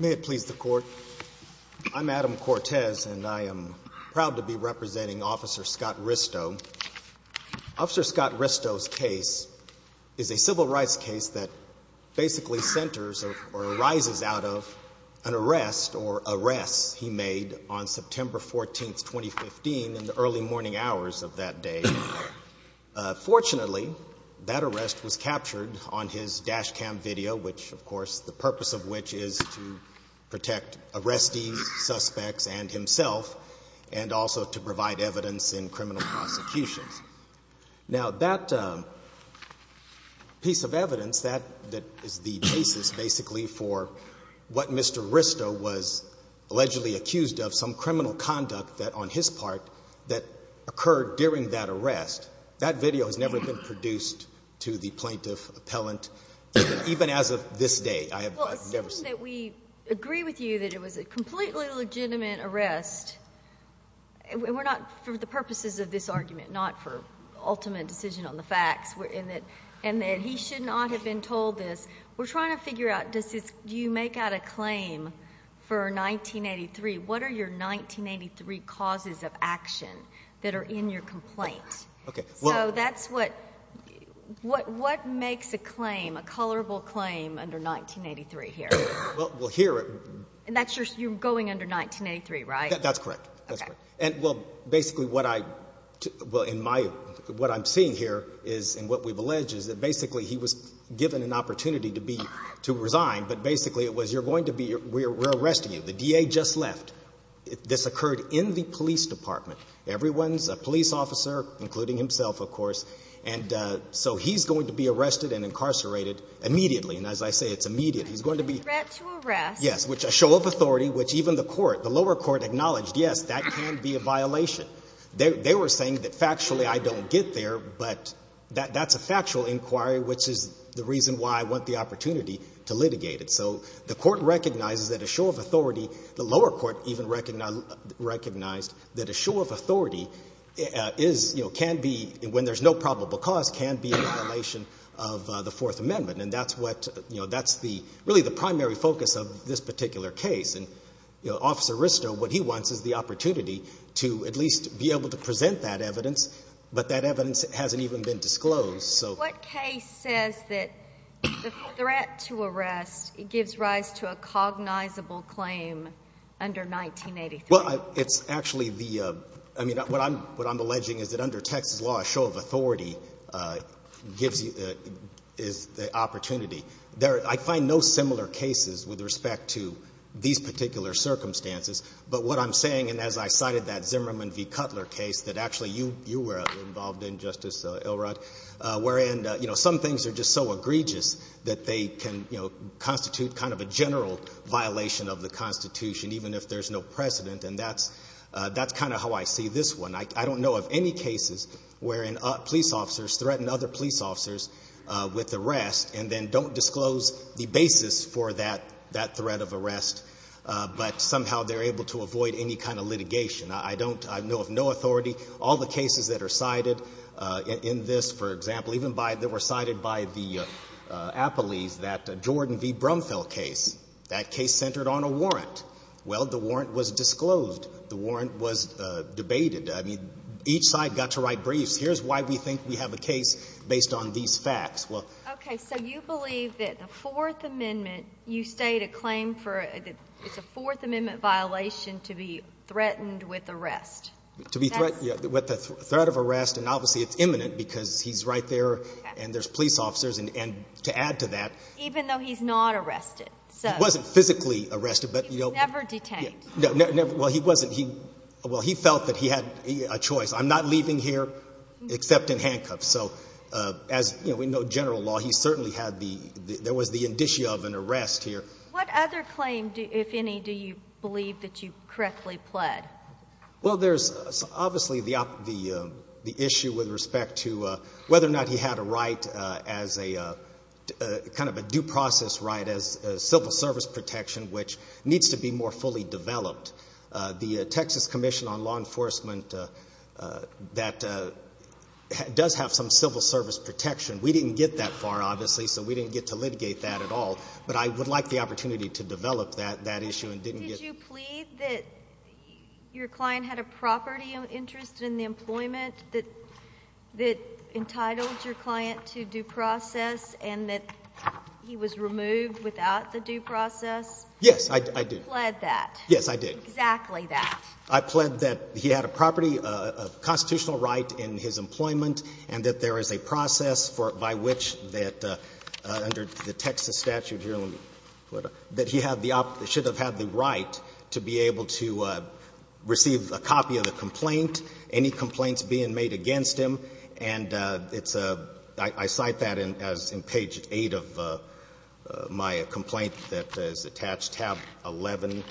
May it please the court. I'm Adam Cortez and I am proud to be representing Officer Scott Ristow. Officer Scott Ristow's case is a civil rights case that basically centers or arises out of an arrest or arrests he made on September 14, 2015 in the early morning hours of that day. Fortunately, that arrest was captured on his dash cam video which of course the purpose of which is to protect arrestees, suspects and himself and also to provide evidence in criminal prosecutions. Now that piece of evidence that is the basis basically for what Mr. Ristow was allegedly accused of, some criminal conduct that on his part that occurred during that arrest, that video has never been produced to the plaintiff appellant even as of this day. Well, assuming that we agree with you that it was a completely legitimate arrest, and we're not for the purposes of this argument, not for ultimate decision on the facts, and that he should not have been told this, we're trying to figure out do you make out a claim for 1983? What are your 1983 causes of action that are in your complaint? So that's what, what makes a claim, a colorable claim under 1983 here? And that's your, you're going under 1983, right? That's correct. Okay. And well, basically what I, well in my, what I'm seeing here is and what we've alleged is that basically he was given an opportunity to be, to resign, but basically it was you're going to be, we're arresting you. The DA just left. This occurred in the police department. Everyone's a police officer, including himself, of course. And so he's going to be arrested and incarcerated immediately. And as I say, it's immediate. He's going to be, yes, which a show of authority, which even the court, the lower court acknowledged, yes, that can be a violation. They were saying that factually I don't get there, but that's a factual inquiry, which is the reason why I want the opportunity to litigate it. So the court recognizes that a show of authority, the lower court even recognized that a show of authority is, you know, can be, when there's no probable cause, can be a violation of the Fourth Amendment. And that's what, you know, that's the, really the primary focus of this particular case. And, you know, Officer Risto, what he wants is the opportunity to at least be able to present that evidence, but that evidence hasn't even been disclosed. So. What case says that the threat to arrest gives rise to a cognizable claim under 1983? Well, it's actually the, I mean, what I'm, what I'm alleging is that under Texas law, a show of authority gives you the opportunity. There, I find no similar cases with respect to these particular circumstances. But what I'm saying, and as I cited that Zimmerman v. Cutler case that actually you, you were involved in Justice Elrod, wherein, you know, some things are just so egregious that they can, you know, constitute kind of a general violation of the Constitution, even if there's no precedent. And that's, that's kind of how I see this one. I don't know of any cases wherein police officers threaten other police officers with arrest and then don't disclose the basis for that, that threat of arrest, but somehow they're able to avoid any kind of litigation. I don't, I know of no authority. All the cases that are cited in this, for example, even by, that were cited by the Appellees, that Jordan v. Brumfell case, that case centered on a warrant. Well, the warrant was disclosed. The warrant was debated. I mean, each side got to write briefs. Here's why we think we have a case based on these facts. Okay, so you believe that the Fourth Amendment, you state a claim for, it's a Fourth Amendment violation to be threatened with arrest. To be threatened, yeah, with the threat of arrest, and obviously it's imminent because he's right there and there's police officers, and to add to that. Even though he's not arrested, so. He wasn't physically arrested, but, you know. He was never detained. Well, he wasn't, he, well, he felt that he had a choice. I'm not leaving here except in handcuffs. So, as we know, general law, he certainly had the, there was the indicia of an arrest here. What other claim, if any, do you believe that you correctly pled? Well, there's obviously the issue with respect to whether or not he had a right as a, kind of a due process right as civil service protection, which needs to be more fully developed. The Texas Commission on Law Enforcement that does have some civil service protection, we didn't get that far, obviously, so we didn't get to litigate that at all. But I would like the opportunity to develop that issue and didn't get. Did you plead that your client had a property interest in the employment that entitled your client to due process and that he was removed without the due process? Yes, I did. You pled that. Yes, I did. Exactly that. I pled that he had a property, a constitutional right in his employment and that there is a process for, by which that under the Texas statute here, let me, that he had the, should have had the right to be able to receive a copy of the complaint, any complaints being made against him. And it's a, I cite that as in page 8 of my complaint that is attached, tab 11,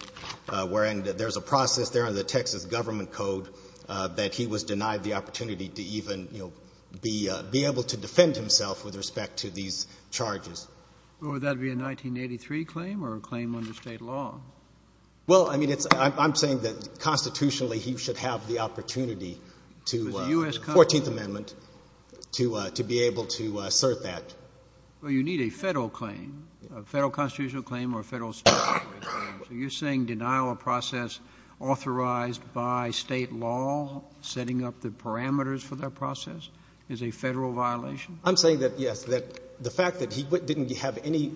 wherein there's a process there under the Texas government code that he was denied the opportunity to even, you know, be able to defend himself with respect to these charges. Would that be a 1983 claim or a claim under State law? Well, I mean, it's, I'm saying that constitutionally he should have the opportunity to, the 14th Amendment, to be able to assert that. Well, you need a Federal claim, a Federal constitutional claim or a Federal statutory claim. So you're saying denial of process authorized by State law, setting up the parameters for that process, is a Federal violation? I'm saying that, yes, that the fact that he didn't have any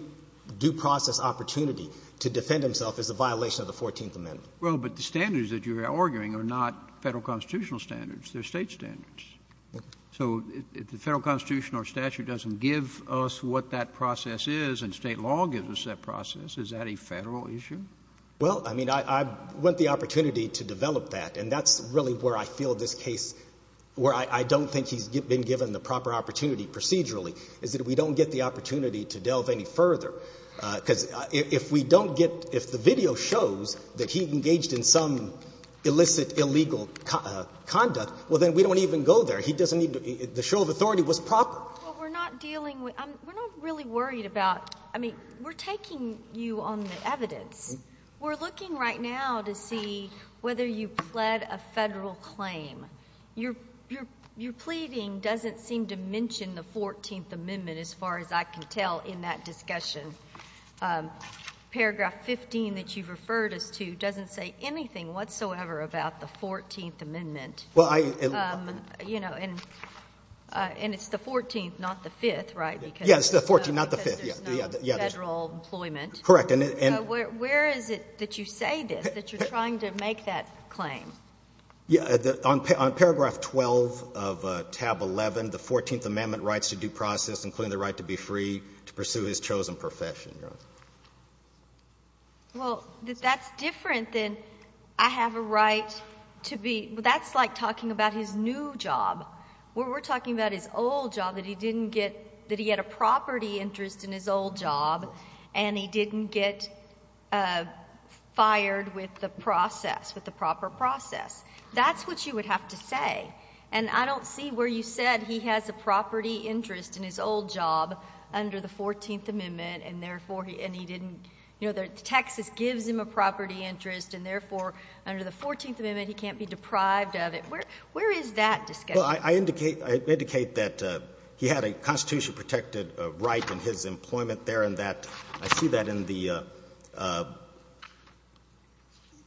due process opportunity to defend himself is a violation of the 14th Amendment. Well, but the standards that you're arguing are not Federal constitutional standards. They're State standards. So if the Federal constitutional statute doesn't give us what that process is and State law gives us that process, is that a Federal issue? Well, I mean, I want the opportunity to develop that. And that's really where I feel this case, where I don't think he's been given the proper opportunity procedurally, is that we don't get the opportunity to delve any further. Because if we don't get, if the video shows that he engaged in some illicit, illegal conduct, well, then we don't even go there. He doesn't even, the show of authority was proper. Well, we're not dealing with, we're not really worried about, I mean, we're taking you on the evidence. We're looking right now to see whether you pled a Federal claim. Your pleading doesn't seem to mention the 14th Amendment as far as I can tell in that discussion. Paragraph 15 that you referred us to doesn't say anything whatsoever about the 14th Amendment. And it's the 14th, not the 5th, right? Yes, it's the 14th, not the 5th. Because there's no Federal employment. Correct. Where is it that you say this, that you're trying to make that claim? On paragraph 12 of tab 11, the 14th Amendment rights to due process, including the right to be free to pursue his chosen profession. Well, that's different than I have a right to be, that's like talking about his new job. We're talking about his old job, that he didn't get, that he had a property interest in his old job, and he didn't get fired with the process, with the proper process. That's what you would have to say. And I don't see where you said he has a property interest in his old job under the 14th Amendment, and therefore, and he didn't, you know, Texas gives him a property interest, and therefore, under the 14th Amendment, he can't be deprived of it. Where is that discussion? Well, I indicate that he had a constitutionally protected right in his employment there, and that, I see that in the,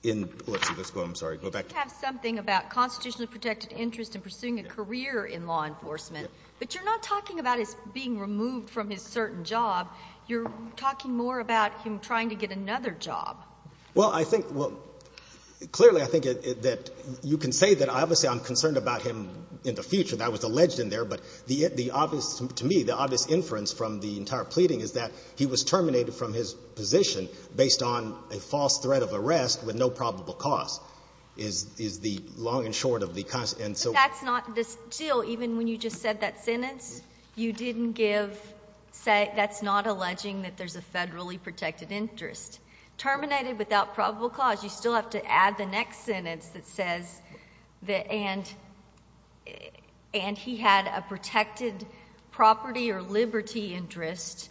in, let's see, let's go, I'm sorry, go back. You did have something about constitutionally protected interest in pursuing a career in law enforcement, but you're not talking about his being removed from his certain job. You're talking more about him trying to get another job. Well, I think, well, clearly, I think that you can say that, obviously, I'm concerned about him in the future. That was alleged in there, but the obvious, to me, the obvious inference from the entire pleading is that he was terminated from his position based on a false threat of arrest with no probable cause. Is, is the long and short of the, and so. But that's not, still, even when you just said that sentence, you didn't give, say, that's not alleging that there's a federally protected interest. Terminated without probable cause, you still have to add the next sentence that says that, and, and he had a protected property or liberty interest,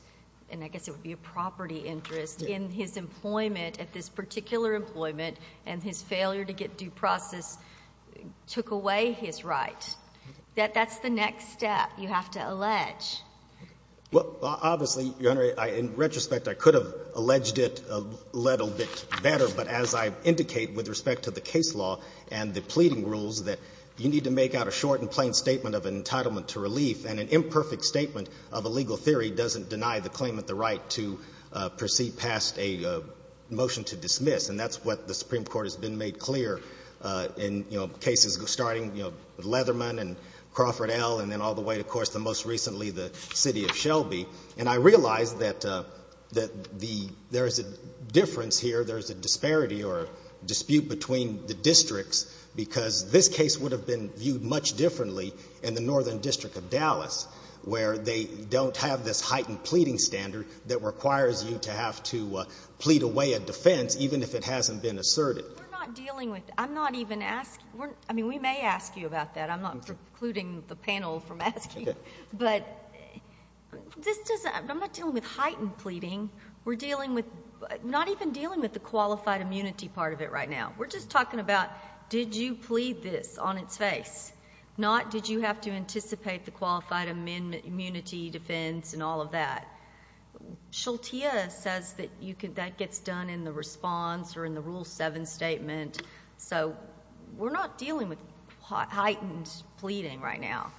and I guess it would be a property interest, in his employment, at this particular employment, and his failure to get due process took away his right. That, that's the next step you have to allege. Well, obviously, Your Honor, in retrospect, I could have alleged it a little bit better, but as I indicate with respect to the case law and the pleading rules, that you need to make out a short and plain statement of an entitlement to relief, and an imperfect statement of a legal theory doesn't deny the claimant the right to proceed past a motion to dismiss. And that's what the Supreme Court has been made clear in, you know, cases starting, you know, Leatherman and Crawford L., and then all the way to, of course, the most recently, the city of Shelby. And I realize that, that the, there is a difference here, there is a disparity or dispute between the districts, because this case would have been viewed much differently in the northern district of Dallas, where they don't have this heightened pleading standard that requires you to have to plead away a defense, even if it hasn't been asserted. We're not dealing with, I'm not even asking, I mean, we may ask you about that. I'm not precluding the panel from asking. Okay. But this doesn't, I'm not dealing with heightened pleading. We're dealing with, not even dealing with the qualified immunity part of it right now. We're just talking about, did you plead this on its face? Not, did you have to anticipate the qualified immunity defense and all of that. Sheltia says that that gets done in the response or in the Rule 7 statement. So we're not dealing with heightened pleading right now.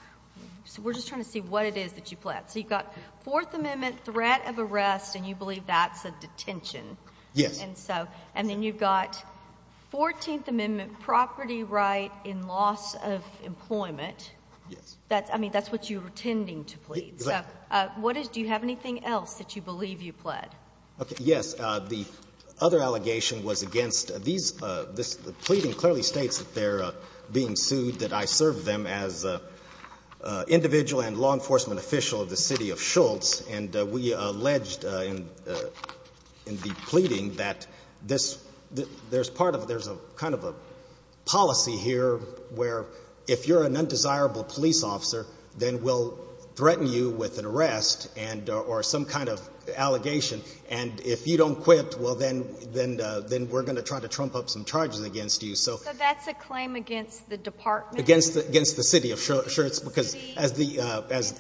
So we're just trying to see what it is that you plead. So you've got Fourth Amendment threat of arrest, and you believe that's a detention. Yes. And then you've got 14th Amendment property right in loss of employment. Yes. I mean, that's what you're intending to plead. Exactly. Do you have anything else that you believe you pled? Yes. The other allegation was against, this pleading clearly states that they're being sued, that I served them as individual and law enforcement official of the city of Schultz, and we alleged in the pleading that there's a kind of a policy here where if you're an undesirable police officer, then we'll threaten you with an arrest or some kind of allegation. And if you don't quit, well, then we're going to try to trump up some charges against you. So that's a claim against the department? Against the city of Schultz.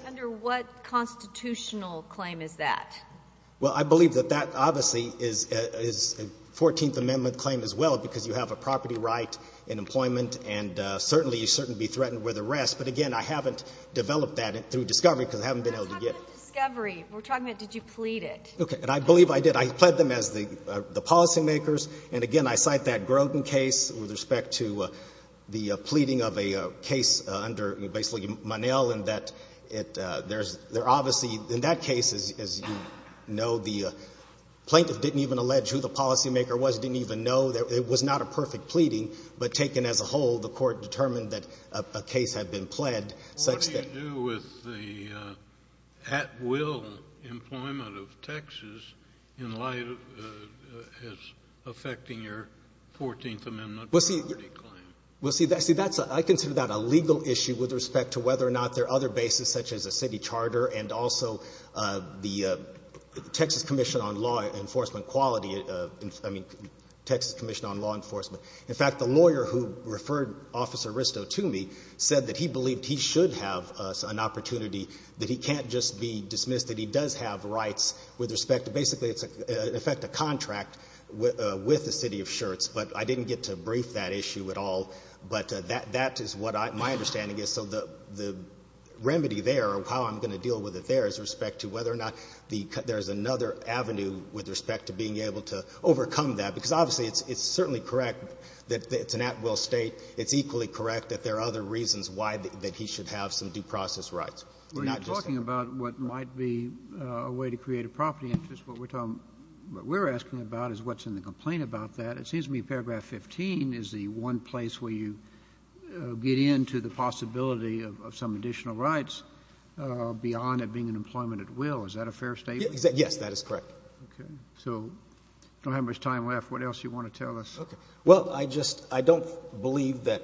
Under what constitutional claim is that? Well, I believe that that obviously is a 14th Amendment claim as well, because you have a property right in employment, and certainly you'd certainly be threatened with arrest. But, again, I haven't developed that through discovery because I haven't been able to get it. We're talking about discovery. We're talking about did you plead it. Okay. And I believe I did. I pled them as the policymakers. And, again, I cite that Grogan case with respect to the pleading of a case under basically Monell, and that there's obviously in that case, as you know, the plaintiff didn't even allege who the policymaker was, didn't even know. It was not a perfect pleading, but taken as a whole, the court determined that a case had been pled such that. I'm not familiar with the at-will employment of Texas in light of affecting your 14th Amendment property claim. Well, see, I consider that a legal issue with respect to whether or not there are other bases such as a city charter and also the Texas Commission on Law Enforcement quality. I mean, Texas Commission on Law Enforcement. In fact, the lawyer who referred Officer Risto to me said that he believed he should have an opportunity, that he can't just be dismissed, that he does have rights with respect to basically it's in effect a contract with the city of Schurz. But I didn't get to brief that issue at all. But that is what my understanding is. So the remedy there or how I'm going to deal with it there is respect to whether or not there's another avenue with respect to being able to overcome that. Because obviously it's certainly correct that it's an at-will State. It's equally correct that there are other reasons why that he should have some due process rights. It's not just him. When you're talking about what might be a way to create a property interest, what we're talking about, what we're asking about is what's in the complaint about that. It seems to me paragraph 15 is the one place where you get into the possibility of some additional rights beyond it being an employment at will. Is that a fair statement? Yes, that is correct. Okay. So I don't have much time left. What else do you want to tell us? Okay. Well, I just don't believe that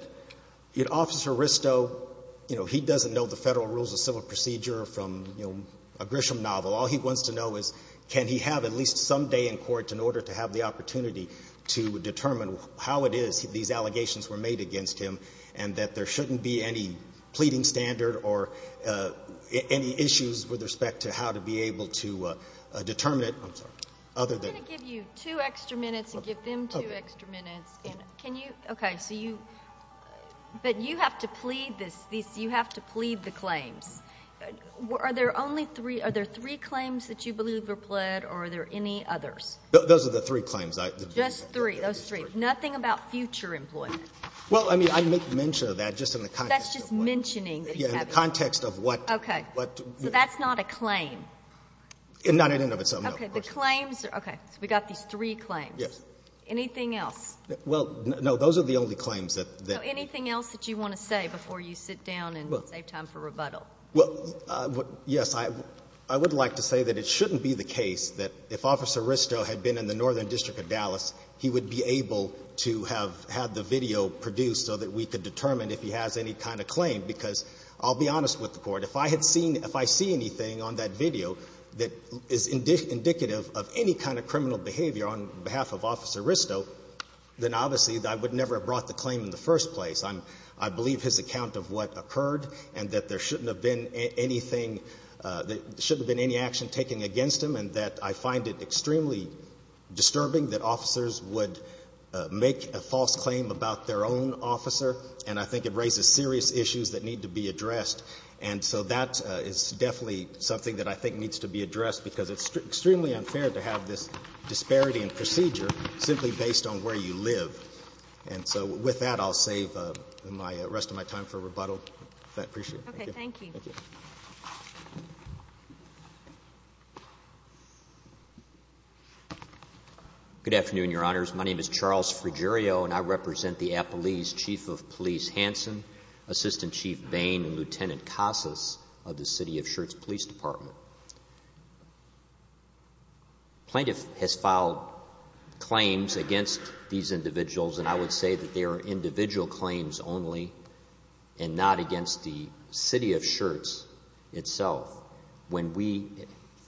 Officer Risto, you know, he doesn't know the Federal Rules of Civil Procedure from, you know, a Grisham novel. All he wants to know is can he have at least some day in court in order to have the opportunity to determine how it is these allegations were made against him and that there shouldn't be any pleading standard or any issues with respect to how to be able to determine it. I'm sorry. I'm going to give you two extra minutes and give them two extra minutes. Can you? Okay. But you have to plead the claims. Are there three claims that you believe were pled or are there any others? Those are the three claims. Just three. Those three. Nothing about future employment. Well, I make mention of that just in the context of what. That's just mentioning. Yeah, in the context of what. Okay. So that's not a claim? Not in and of itself, no. Okay. The claims. Okay. So we've got these three claims. Yes. Anything else? Well, no. Those are the only claims that. So anything else that you want to say before you sit down and save time for rebuttal? Well, yes. I would like to say that it shouldn't be the case that if Officer Risto had been in the Northern District of Dallas, he would be able to have had the video produced so that we could determine if he has any kind of claim, because I'll be honest with the Court. If I see anything on that video that is indicative of any kind of criminal behavior on behalf of Officer Risto, then obviously I would never have brought the claim in the first place. I believe his account of what occurred and that there shouldn't have been any action taken against him and that I find it extremely disturbing that officers would make a false claim about their own officer, and I think it raises serious issues that need to be addressed. And so that is definitely something that I think needs to be addressed, because it's extremely unfair to have this disparity in procedure simply based on where you live. And so with that, I'll save the rest of my time for rebuttal. I appreciate it. Okay. Thank you. Thank you. Good afternoon, Your Honors. My name is Charles Frigerio, and I represent the Appalese Chief of Police Hanson, Assistant Chief Bain, and Lieutenant Casas of the City of Schertz Police Department. Plaintiff has filed claims against these individuals, and I would say that they are individual claims only and not against the City of Schertz itself. When we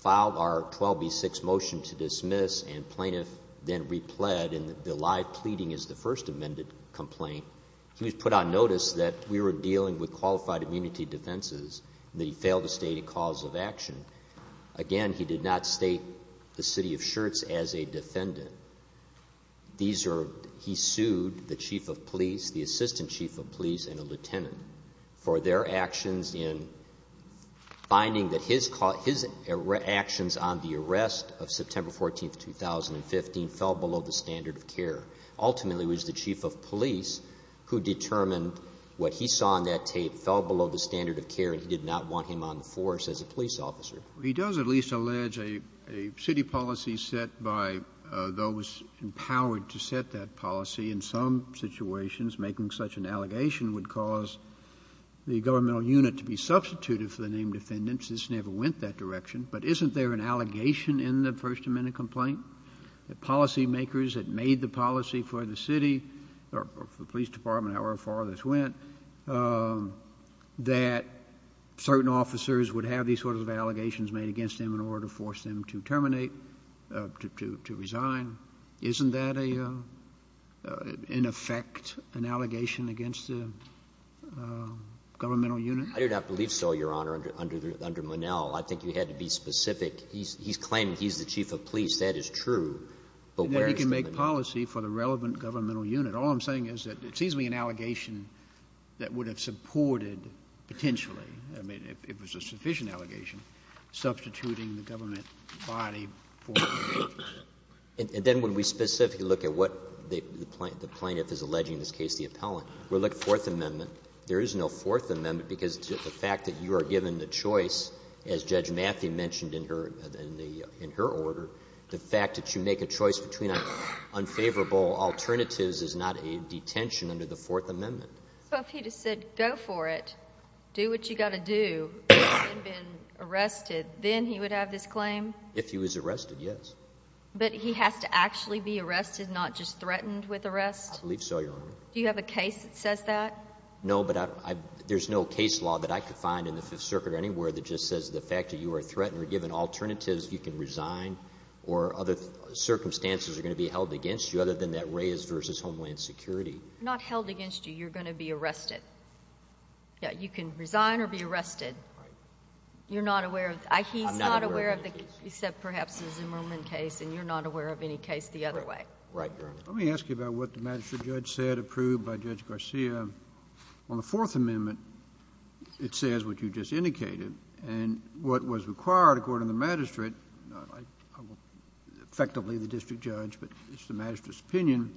filed our 12B6 motion to dismiss and plaintiff then replied, and the live pleading is the first amended complaint, he was put on notice that we were dealing with qualified immunity defenses and that he failed to state a cause of action. Again, he did not state the City of Schertz as a defendant. These are, he sued the Chief of Police, the Assistant Chief of Police, and a lieutenant for their actions in finding that his actions on the arrest of September 14, 2015, fell below the standard of care. Ultimately, it was the Chief of Police who determined what he saw on that tape fell below the standard of care, and he did not want him on the force as a police officer. He does at least allege a city policy set by those empowered to set that policy. In some situations, making such an allegation would cause the governmental unit to be substituted for the named defendants. This never went that direction, but isn't there an allegation in the first amended complaint that policy makers that made the policy for the city or for the police department, however far this went, that certain officers would have these sorts of allegations made against them in order to force them to terminate, to resign? Isn't that a, in effect, an allegation against the governmental unit? I do not believe so, Your Honor, under Monell. I think you had to be specific. He's claiming he's the Chief of Police. That is true, but where is the Monell? Then he can make policy for the relevant governmental unit. All I'm saying is that it seems to be an allegation that would have supported, potentially, I mean, if it was a sufficient allegation, substituting the government body for the named defendants. And then when we specifically look at what the plaintiff is alleging, in this case the appellant, we look at Fourth Amendment. There is no Fourth Amendment because the fact that you are given the choice, as Judge Matthew mentioned in her order, the fact that you make a choice between unfavorable alternatives is not a detention under the Fourth Amendment. So if he just said, go for it, do what you've got to do, and been arrested, then he would have this claim? If he was arrested, yes. But he has to actually be arrested, not just threatened with arrest? I believe so, Your Honor. Do you have a case that says that? No, but there's no case law that I could find in the Fifth Circuit or anywhere that just says the fact that you are threatened or given alternatives, you can resign, or other circumstances are going to be held against you other than that Reyes v. Homeland Security. Not held against you. You're going to be arrested. Yeah, you can resign or be arrested. Right. You're not aware of the case. He's not aware of the case. I'm not aware of any case. Except perhaps the Zimmerman case, and you're not aware of any case the other way. Right, Your Honor. Let me ask you about what the magistrate judge said, approved by Judge Garcia. On the Fourth Amendment, it says what you just indicated, and what was required, according to the magistrate, effectively the district judge, but it's the magistrate's opinion,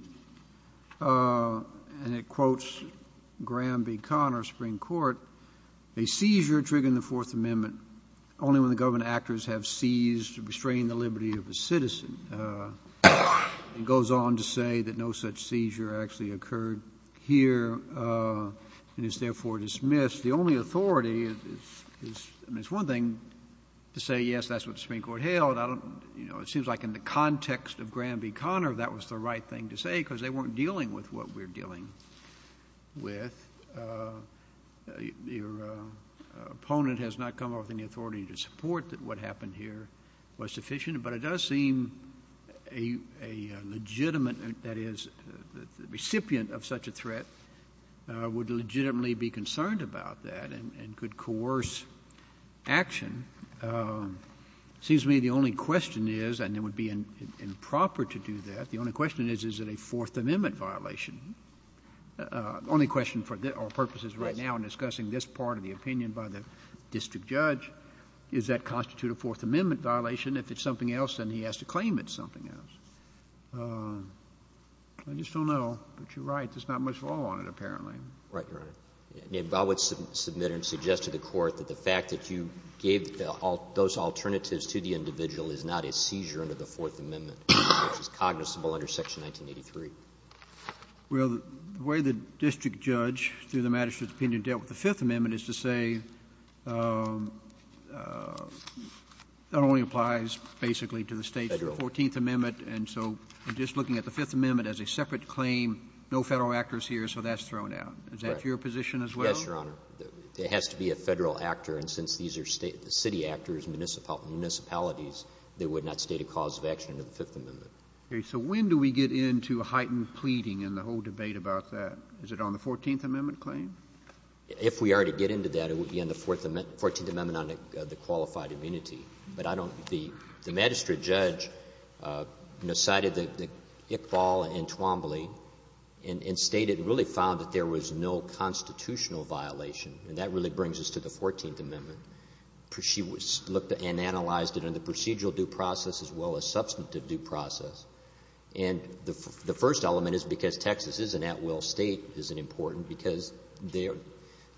and it quotes Graham B. Conner, Supreme Court, a seizure triggering the Fourth Amendment only when the government actors have seized or restrained the liberty of a citizen. It goes on to say that no such seizure actually occurred here and is therefore dismissed. The only authority is, I mean, it's one thing to say, yes, that's what the Supreme Court held. I don't, you know, it seems like in the context of Graham B. Conner, that was the right thing to say because they weren't dealing with what we're dealing with. Your opponent has not come up with any authority to support that what happened here was sufficient, but it does seem a legitimate, that is, the recipient of such a threat would legitimately be concerned about that and could coerce action. It seems to me the only question is, and it would be improper to do that, the only question is, is it a Fourth Amendment violation? The only question for purposes right now in discussing this part of the opinion by the district judge, is that constitute a Fourth Amendment violation? If it's something else, then he has to claim it's something else. I just don't know. But you're right. There's not much law on it, apparently. Right, Your Honor. I would submit and suggest to the Court that the fact that you gave those alternatives to the individual is not a seizure under the Fourth Amendment, which is cognizable under Section 1983. That only applies basically to the State's Fourteenth Amendment. Federal. And so just looking at the Fifth Amendment as a separate claim, no Federal actors here, so that's thrown out. Right. Is that your position as well? Yes, Your Honor. It has to be a Federal actor, and since these are the City actors, municipalities, they would not state a cause of action under the Fifth Amendment. Okay. So when do we get into heightened pleading and the whole debate about that? Is it on the Fourteenth Amendment claim? If we are to get into that, it would be on the Fourteenth Amendment on the qualified immunity. But I don't think the magistrate judge cited the Iqbal and Twombly and stated and really found that there was no constitutional violation, and that really brings us to the Fourteenth Amendment. She looked and analyzed it in the procedural due process as well as substantive due process. And the first element is because Texas is an at-will state, it isn't important because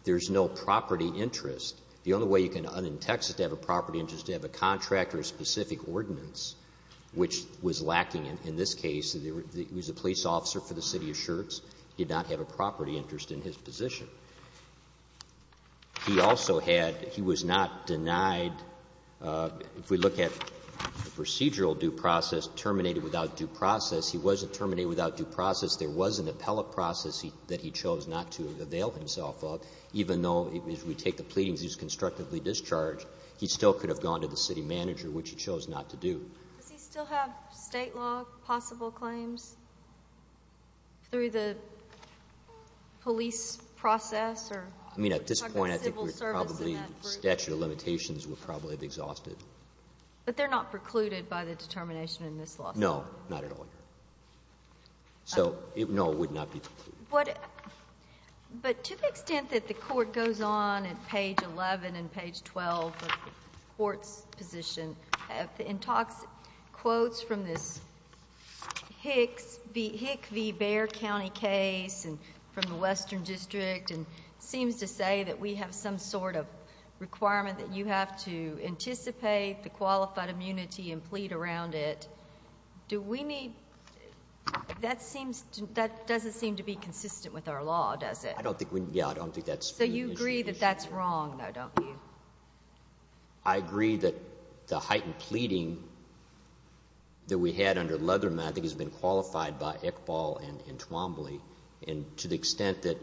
there's no property interest. The only way you can, in Texas, have a property interest is to have a contract or a specific ordinance, which was lacking in this case. He was a police officer for the City of Schertz. He did not have a property interest in his position. He also had, he was not denied, if we look at the procedural due process, he wasn't terminated without due process. He wasn't terminated without due process. There was an appellate process that he chose not to avail himself of, even though if we take the pleadings he was constructively discharged, he still could have gone to the city manager, which he chose not to do. Does he still have state law possible claims through the police process? I mean, at this point, I think we're probably, statute of limitations, we're probably exhausted. But they're not precluded by the determination in this lawsuit? No, not at all. So, no, it would not be precluded. But to the extent that the Court goes on at page 11 and page 12 of the Court's position and talks quotes from this Hick v. Bexar County case from the Western District and seems to say that we have some sort of requirement that you have to anticipate the qualified immunity and plead around it, do we need, that seems, that doesn't seem to be consistent with our law, does it? I don't think, yeah, I don't think that's. So you agree that that's wrong, though, don't you? I agree that the heightened pleading that we had under Leatherman, I think, has been qualified by Iqbal and Twombly. And to the extent that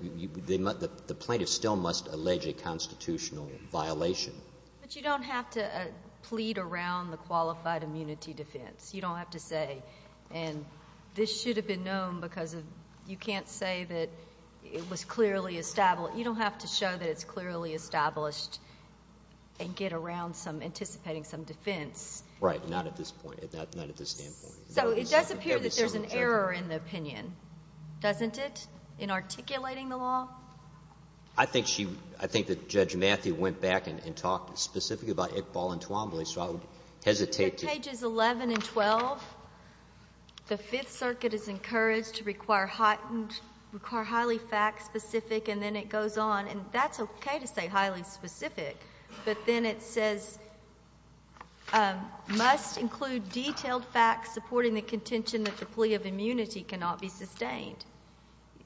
the plaintiff still must allege a constitutional violation. But you don't have to plead around the qualified immunity defense. You don't have to say, and this should have been known because you can't say that it was clearly established. You don't have to show that it's clearly established and get around some anticipating some defense. Right, not at this point, not at this standpoint. So it does appear that there's an error in the opinion. Doesn't it? In articulating the law? I think she, I think that Judge Matthew went back and talked specifically about Iqbal and Twombly, so I would hesitate to. In pages 11 and 12, the Fifth Circuit is encouraged to require heightened, require highly fact-specific, and then it goes on, and that's okay to say highly specific, but then it says, must include detailed facts supporting the contention that the plea of immunity cannot be sustained.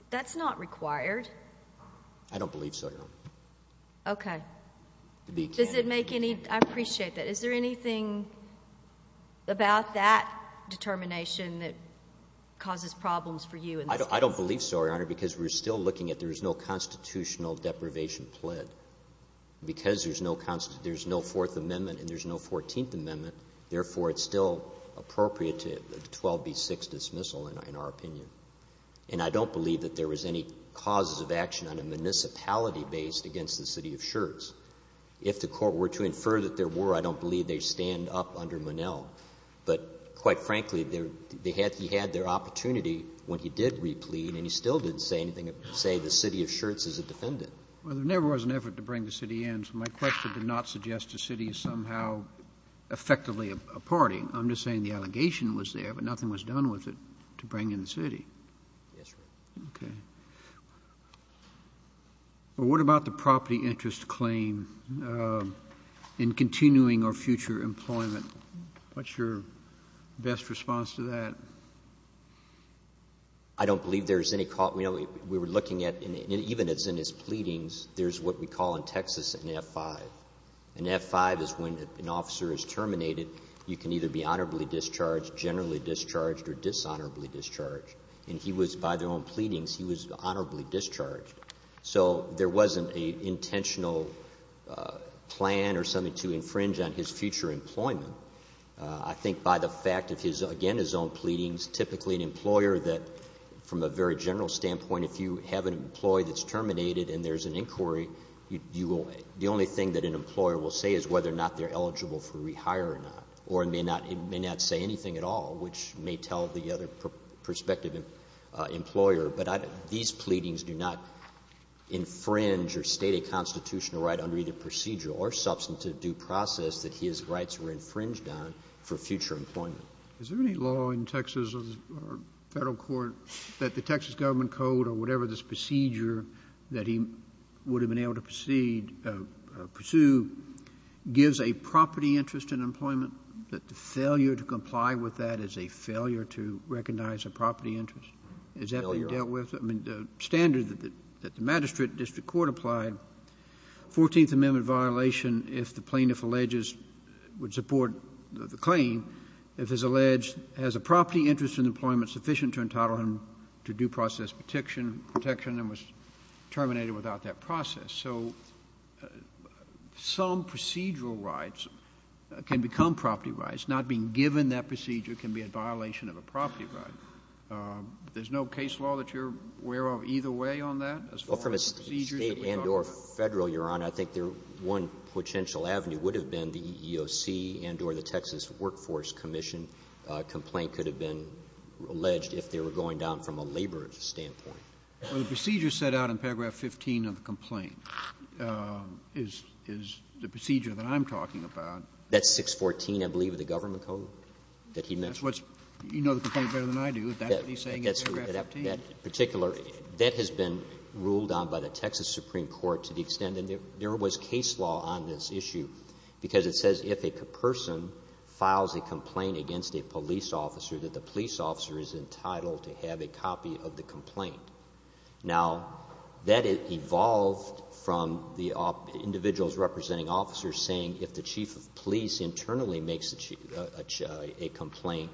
That's not required. I don't believe so, Your Honor. Okay. Does it make any, I appreciate that. Is there anything about that determination that causes problems for you in this case? I don't believe so, Your Honor, because we're still looking at there is no constitutional deprivation plead. Because there's no fourth amendment and there's no fourteenth amendment, therefore it's still appropriate to 12B6 dismissal in our opinion. And I don't believe that there was any causes of action on a municipality-based against the city of Schertz. If the Court were to infer that there were, I don't believe they stand up under Monell. But quite frankly, he had their opportunity when he did replead, and he still didn't say anything, say the city of Schertz is a defendant. Well, there never was an effort to bring the city in, so my question did not suggest the city is somehow effectively a party. I'm just saying the allegation was there, but nothing was done with it to bring in the city. Yes, sir. Okay. But what about the property interest claim in continuing or future employment? What's your best response to that? I don't believe there's any cause. We were looking at, even as in his pleadings, there's what we call in Texas an F-5. An F-5 is when an officer is terminated, you can either be honorably discharged, generally discharged, or dishonorably discharged. And he was, by their own pleadings, he was honorably discharged. So there wasn't an intentional plan or something to infringe on his future employment. I think by the fact of his, again, his own pleadings, typically an employer that, from a very general standpoint, if you have an employee that's terminated and there's an inquiry, the only thing that an employer will say is whether or not they're eligible for rehire or not. Or it may not say anything at all, which may tell the other prospective employer. But these pleadings do not infringe or state a constitutional right under either procedure or substantive due process that his rights were infringed on for future employment. Is there any law in Texas or federal court that the Texas government code or whatever this procedure that he would have been able to pursue gives a property interest in employment that the failure to comply with that is a failure to recognize a property interest? Is that being dealt with? I mean, the standard that the magistrate district court applied, 14th Amendment violation, if the plaintiff alleges would support the claim, if it's alleged has a property interest in employment sufficient to entitle him to due process protection and was terminated without that process. So some procedural rights can become property rights. Not being given that procedure can be a violation of a property right. There's no case law that you're aware of either way on that as far as procedures? Well, from a state and or federal, Your Honor, I think one potential avenue would have been the EEOC and or the Texas Workforce Commission complaint could have been alleged if they were going down from a laborer's standpoint. Well, the procedure set out in paragraph 15 of the complaint is the procedure that I'm talking about. That's 614, I believe, of the government code that he mentioned. That's what's — you know the complaint better than I do. That's what he's saying in paragraph 15. In particular, that has been ruled on by the Texas Supreme Court to the extent — and there was case law on this issue because it says if a person files a complaint against a police officer, that the police officer is entitled to have a copy of the complaint. Now, that evolved from the individuals representing officers saying if the chief of police internally makes a complaint,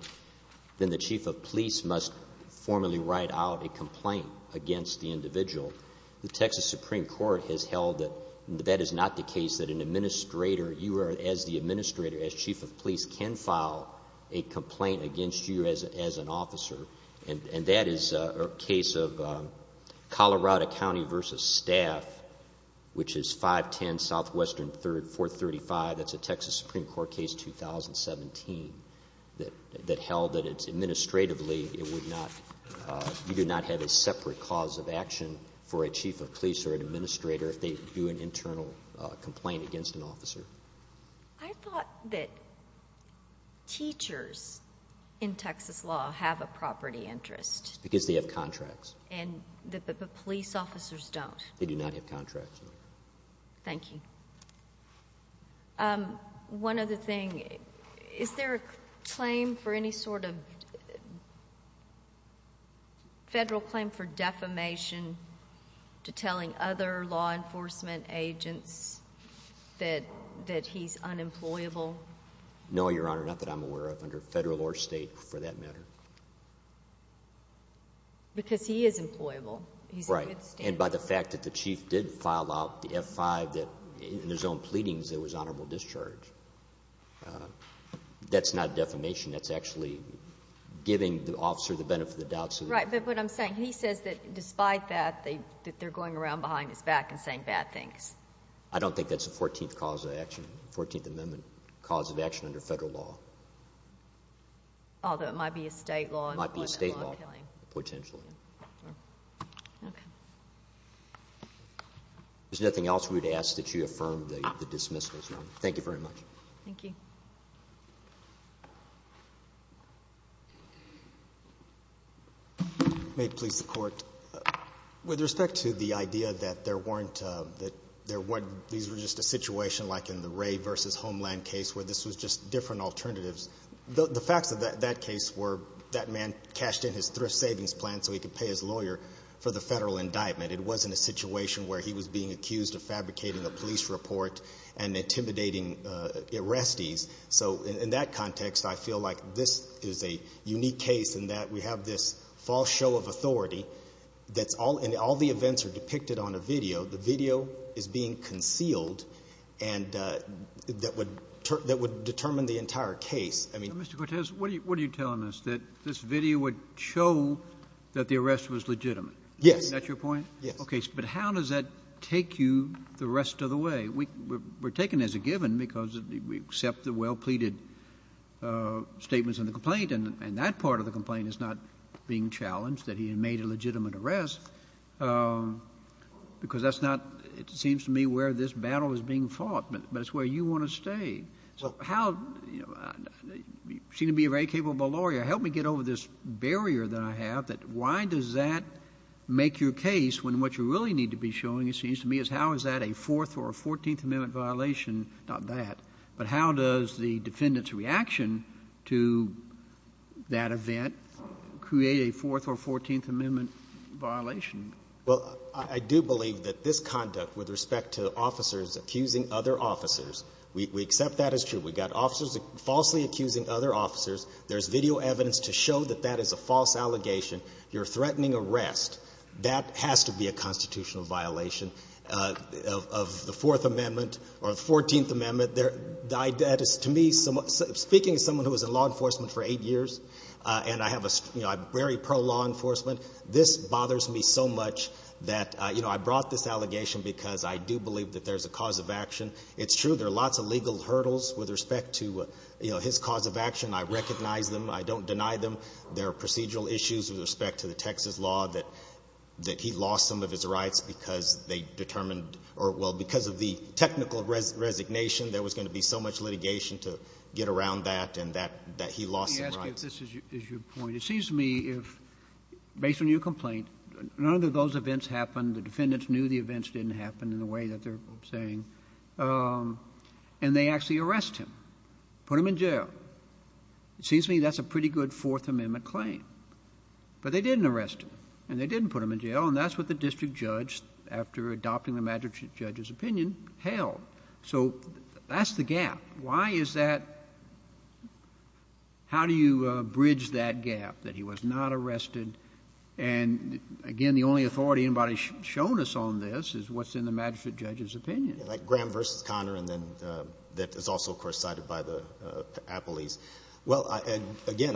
then the chief of police must formally write out a complaint against the individual. The Texas Supreme Court has held that that is not the case, that an administrator, you as the administrator, as chief of police can file a complaint against you as an officer. And that is a case of Colorado County v. Staff, which is 510 Southwestern 3rd, 435. That's a Texas Supreme Court case, 2017, that held that it's administratively — it would not — you do not have a separate cause of action for a chief of police or an administrator if they do an internal complaint against an officer. I thought that teachers in Texas law have a property interest. Because they have contracts. And the police officers don't. They do not have contracts. Thank you. One other thing. Is there a claim for any sort of federal claim for defamation to telling other law enforcement agents that he's unemployable? No, Your Honor, not that I'm aware of, under federal or state, for that matter. Because he is employable. Right. And by the fact that the chief did file out the F-5 in his own pleadings, it was honorable discharge. That's not defamation. That's actually giving the officer the benefit of the doubt. Right. But what I'm saying, he says that despite that, that they're going around behind his back and saying bad things. I don't think that's a 14th cause of action, 14th Amendment cause of action under federal law. Although it might be a state law. Might be a state law, potentially. Okay. If there's nothing else, we would ask that you affirm the dismissal, Your Honor. Thank you very much. Thank you. May it please the Court. With respect to the idea that there weren't, these were just a situation like in the Ray v. Homeland case where this was just different alternatives. The facts of that case were that man cashed in his thrift savings plan so he could pay his lawyer for the federal indictment. It wasn't a situation where he was being accused of fabricating a police report and intimidating arrestees. So in that context, I feel like this is a unique case in that we have this false show of authority. And all the events are depicted on a video. The video is being concealed and that would determine the entire case. Mr. Cortez, what are you telling us, that this video would show that the arrest was legitimate? Yes. Is that your point? Yes. Okay, but how does that take you the rest of the way? We're taking it as a given because we accept the well-pleaded statements in the complaint. And that part of the complaint is not being challenged, that he had made a legitimate arrest. Because that's not, it seems to me, where this battle is being fought. But it's where you want to stay. You seem to be a very capable lawyer. Help me get over this barrier that I have that why does that make your case when what you really need to be showing, it seems to me, is how is that a Fourth or a Fourteenth Amendment violation? Not that. But how does the defendant's reaction to that event create a Fourth or Fourteenth Amendment violation? Well, I do believe that this conduct with respect to officers accusing other officers, we accept that as true. We've got officers falsely accusing other officers. There's video evidence to show that that is a false allegation. You're threatening arrest. That has to be a constitutional violation of the Fourth Amendment or the Fourteenth Amendment. To me, speaking as someone who was in law enforcement for eight years, and I'm very pro-law enforcement, this bothers me so much that I brought this allegation because I do believe that there's a cause of action. It's true there are lots of legal hurdles with respect to his cause of action. I recognize them. I don't deny them. There are procedural issues with respect to the Texas law that he lost some of his rights because they determined or, well, because of the technical resignation, there was going to be so much litigation to get around that and that he lost some rights. Let me ask you if this is your point. It seems to me if, based on your complaint, none of those events happened. The defendants knew the events didn't happen in the way that they're saying. And they actually arrest him, put him in jail. It seems to me that's a pretty good Fourth Amendment claim. But they didn't arrest him, and they didn't put him in jail, and that's what the district judge, after adopting the magistrate judge's opinion, held. So that's the gap. Why is that? How do you bridge that gap that he was not arrested? And, again, the only authority anybody's shown us on this is what's in the magistrate judge's opinion. Like Graham v. Conner and then that is also, of course, cited by the appellees. Well, and, again,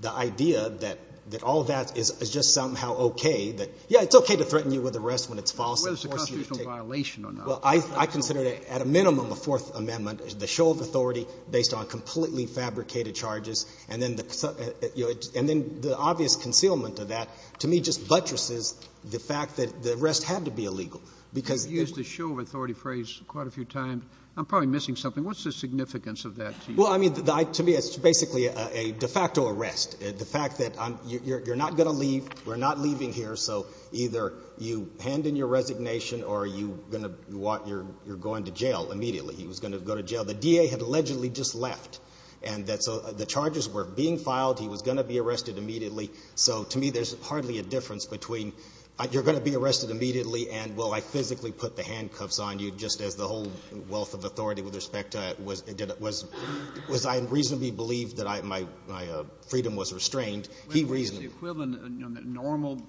the idea that all that is just somehow okay, that, yeah, it's okay to threaten you with arrest when it's false. Whether it's a constitutional violation or not. Well, I consider it at a minimum a Fourth Amendment, the show of authority based on completely fabricated charges, and then the obvious concealment of that to me just buttresses the fact that the arrest had to be illegal. You used the show of authority phrase quite a few times. I'm probably missing something. What's the significance of that to you? Well, I mean, to me it's basically a de facto arrest. The fact that you're not going to leave, we're not leaving here, so either you hand in your resignation or you're going to jail immediately. He was going to go to jail. The DA had allegedly just left, and so the charges were being filed. He was going to be arrested immediately. So, to me, there's hardly a difference between you're going to be arrested immediately and, well, I physically put the handcuffs on you just as the whole wealth of authority with respect to it was I reasonably believed that my freedom was restrained. Well, it's the equivalent of a normal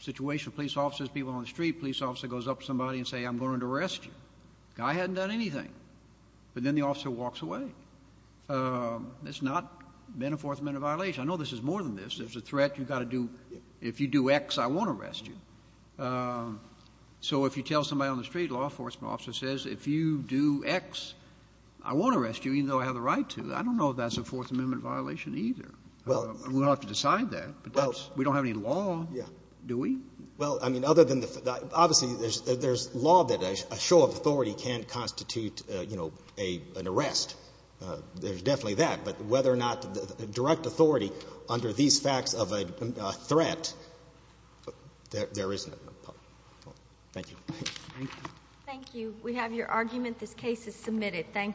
situation. Police officers, people on the street, a police officer goes up to somebody and says, I'm going to arrest you. The guy hadn't done anything. But then the officer walks away. It's not a Fourth Amendment violation. I know this is more than this. There's a threat you've got to do. If you do X, I won't arrest you. So if you tell somebody on the street, a law enforcement officer says, if you do X, I won't arrest you even though I have the right to. I don't know if that's a Fourth Amendment violation either. We don't have to decide that. We don't have any law, do we? Well, I mean, other than the – obviously there's law that a show of authority can constitute an arrest. There's definitely that. But whether or not direct authority under these facts of a threat, there isn't. Thank you. Thank you. We have your argument. This case is submitted. Thank you.